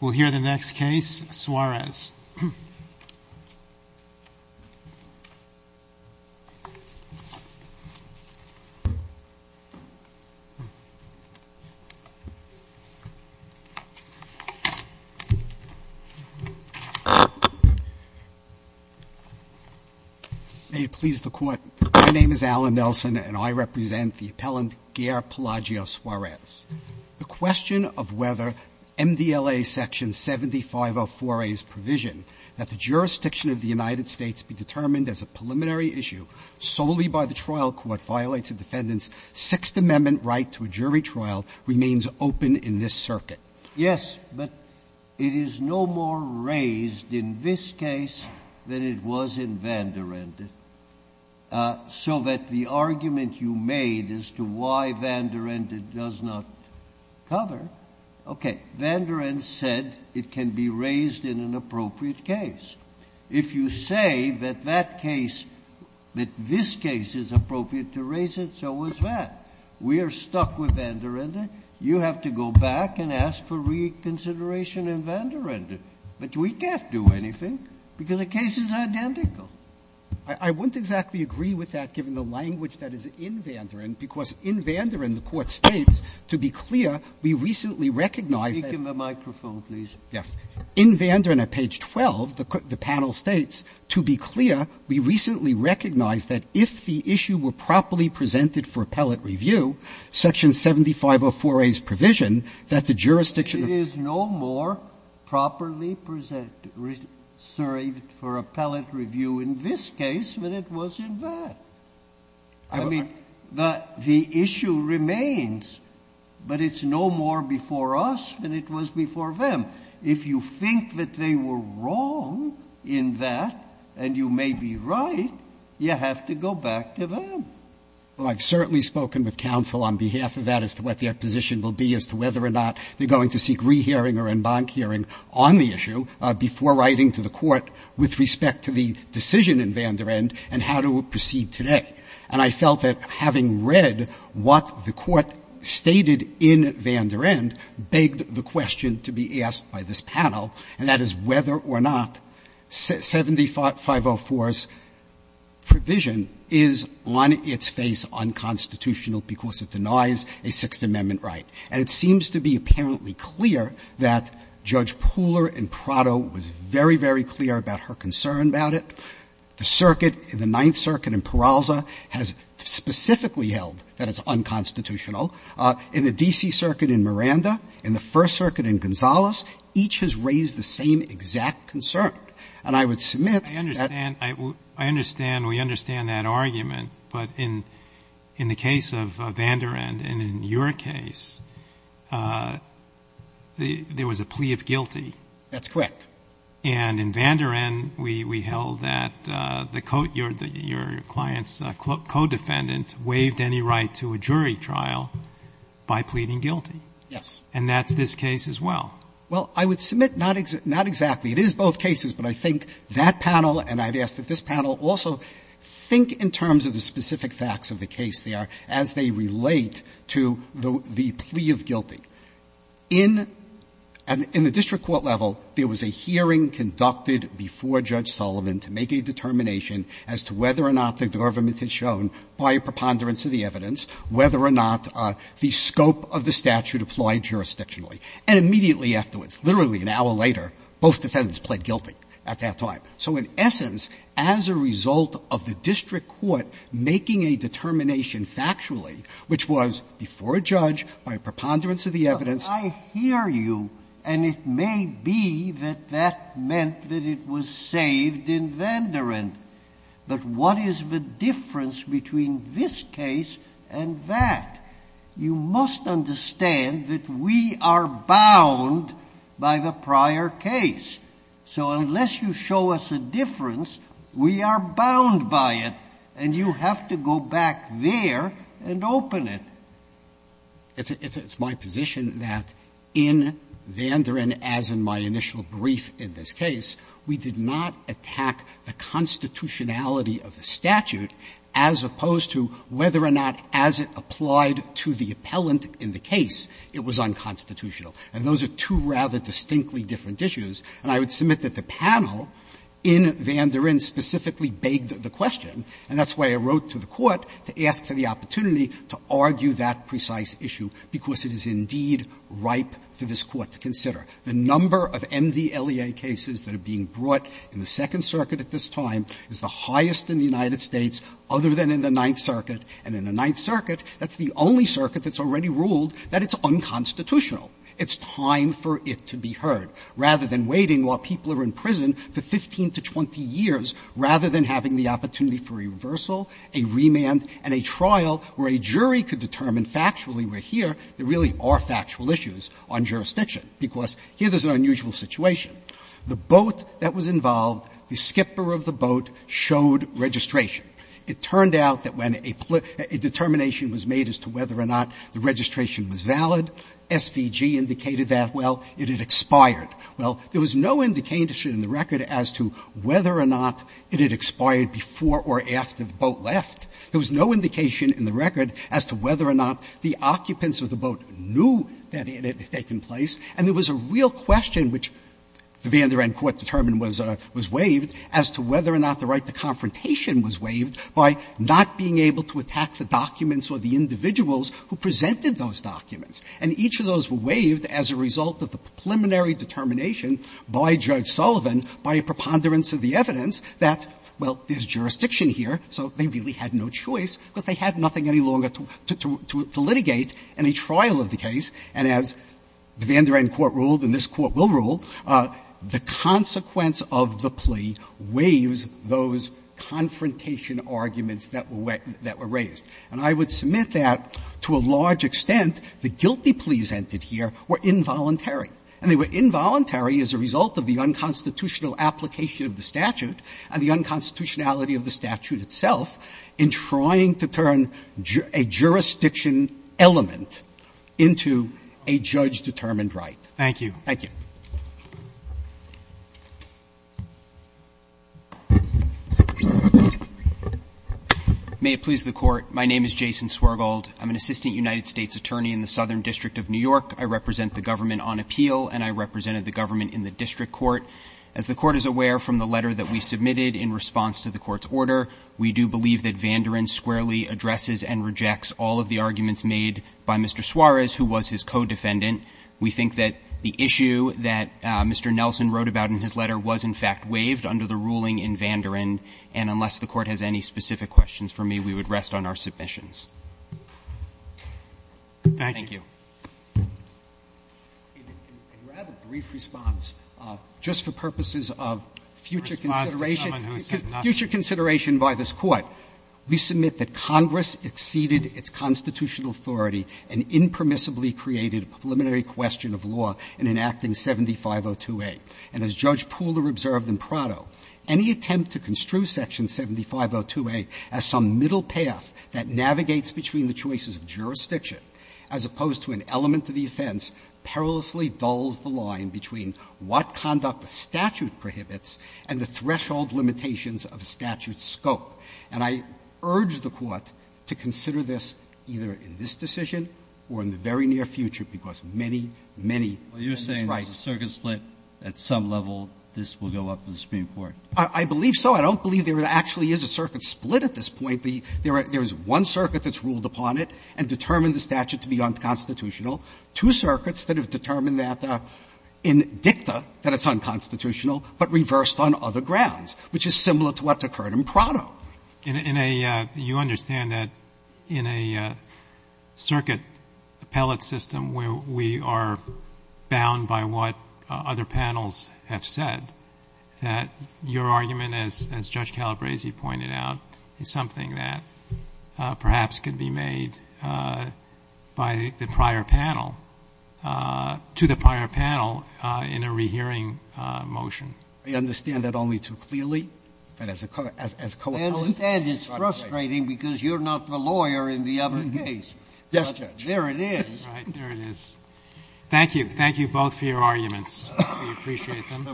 We'll hear the next case, Suarez. May it please the Court, my name is Alan Nelson and I represent the appellant Gheer Pellagio Suarez. The question of whether MDLA Section 7504A's provision that the jurisdiction of the United States be determined as a preliminary issue solely by the trial court violates a defendant's Sixth Amendment right to a jury trial remains open in this circuit. Yes, but it is no more raised in this case than it was in Van der Ende, so that the Van der Ende does not cover. Okay. Van der Ende said it can be raised in an appropriate case. If you say that that case, that this case is appropriate to raise it, so is that. We are stuck with Van der Ende. You have to go back and ask for reconsideration in Van der Ende. But we can't do anything, because the case is identical. I wouldn't exactly agree with that, given the language that is in Van der Ende, because in Van der Ende, the Court states, to be clear, we recently recognized that. Speak in the microphone, please. Yes. In Van der Ende, page 12, the panel states, to be clear, we recently recognized that if the issue were properly presented for appellate review, Section 7504A's provision that the jurisdiction of the United States be determined as a preliminary issue. It is no more properly presented for appellate review in this case than it was in Van der Ende. I mean, the issue remains, but it's no more before us than it was before them. If you think that they were wrong in that, and you may be right, you have to go back to them. Well, I've certainly spoken with counsel on behalf of that as to what their position will be as to whether or not they're going to seek rehearing or en banc hearing on the issue before writing to the Court with respect to the decision in Van der Ende and how to proceed today. And I felt that having read what the Court stated in Van der Ende begged the question to be asked by this panel, and that is whether or not 75504's provision is on its face unconstitutional because it denies a Sixth Amendment right. And it seems to be apparently clear that Judge Pooler in Prado was very, very clear about her concern about it. The circuit in the Ninth Circuit in Peralza has specifically held that it's unconstitutional. In the D.C. Circuit in Miranda, in the First Circuit in Gonzales, each has raised the same exact concern. And I would submit that — I understand. I understand. We understand that argument. But in the case of Van der Ende and in your case, there was a plea of guilty. That's correct. And in Van der Ende, we held that the — your client's co-defendant waived any right to a jury trial by pleading guilty. Yes. And that's this case as well. Well, I would submit not exactly. It is both cases, but I think that panel and I'd ask that this panel also think in terms of the specific facts of the case there as they relate to the plea of guilty. In the district court level, there was a hearing conducted before Judge Sullivan to make a determination as to whether or not the government had shown, by a preponderance of the evidence, whether or not the scope of the statute applied jurisdictionally. And immediately afterwards, literally an hour later, both defendants pled guilty at that time. So in essence, as a result of the district court making a determination factually, which was before a judge, by a preponderance of the evidence. I hear you. And it may be that that meant that it was saved in Van der Ende. But what is the difference between this case and that? You must understand that we are bound by the prior case. So unless you show us a difference, we are bound by it. And you have to go back there and open it. It's my position that in Van der Ende, as in my initial brief in this case, we did not attack the constitutionality of the statute as opposed to whether or not as it applied to the appellant in the case, it was unconstitutional. And those are two rather distinctly different issues. And I would submit that the panel in Van der Ende specifically begged the question, and that's why I wrote to the Court to ask for the opportunity to argue that precise issue, because it is indeed ripe for this Court to consider. The number of MDLEA cases that are being brought in the Second Circuit at this time is the highest in the United States other than in the Ninth Circuit. And in the Ninth Circuit, that's the only circuit that's already ruled that it's unconstitutional. It's time for it to be heard. Rather than waiting while people are in prison for 15 to 20 years, rather than having the opportunity for a reversal, a remand, and a trial where a jury could determine factually, we're here, there really are factual issues on jurisdiction, because here there's an unusual situation. The boat that was involved, the skipper of the boat, showed registration. It turned out that when a determination was made as to whether or not the registration was valid, SVG indicated that, well, it had expired. Well, there was no indication in the record as to whether or not it had expired before or after the boat left. There was no indication in the record as to whether or not the occupants of the boat knew that it had taken place. And there was a real question, which the Van der Ende Court determined was waived, as to whether or not the right to confrontation was waived by not being able to attack the documents or the individuals who presented those documents. And each of those were waived as a result of the preliminary determination by Judge Sullivan, by a preponderance of the evidence, that, well, there's jurisdiction here, so they really had no choice, because they had nothing any longer to litigate any trial of the case. And as the Van der Ende Court ruled, and this Court will rule, the consequence of the plea waives those confrontation arguments that were raised. And I would submit that, to a large extent, the guilty pleas entered here were involuntary. And they were involuntary as a result of the unconstitutional application of the statute and the unconstitutionality of the statute itself in trying to turn a jurisdiction element into a judge-determined right. Thank you. Thank you. May it please the Court. My name is Jason Swergold. I'm an assistant United States attorney in the Southern District of New York. I represent the government on appeal, and I represented the government in the district court. As the Court is aware from the letter that we submitted in response to the Court's order, we do believe that Van der Ende squarely addresses and rejects all of the arguments made by Mr. Suarez, who was his co-defendant. We think that the issue that Mr. Nelson wrote about in his letter was, in fact, waived under the ruling in Van der Ende. And unless the Court has any specific questions for me, we would rest on our submissions. Thank you. You have a brief response. Just for purposes of future consideration, future consideration by this Court, we submit that Congress exceeded its constitutional authority and impermissibly created a preliminary question of law in enacting 7502A. And as Judge Poole observed in Prado, any attempt to construe section 7502A as some middle path that navigates between the choices of jurisdiction, as opposed to an element of the offense, perilously dulls the line between what conduct the statute prohibits and the threshold limitations of a statute's scope. And I urge the Court to consider this either in this decision or in the very near future, because many, many rights. Well, you're saying there's a circuit split at some level, this will go up to the Supreme Court. I believe so. I don't believe there actually is a circuit split at this point. There is one circuit that's ruled upon it and determined the statute to be unconstitutional. Two circuits that have determined that in dicta, that it's unconstitutional, but reversed on other grounds, which is similar to what occurred in Prado. In a — you understand that in a circuit appellate system where we are bound by what other panels have said, that your argument, as Judge Calabresi pointed out, is something that perhaps could be made by the prior panel, to the prior panel, in a rehearing motion. I understand that only too clearly, but as a co-appellate. I understand it's frustrating because you're not the lawyer in the other case. Yes, Judge. There it is. Right. There it is. Thank you. Thank you both for your arguments. We appreciate them.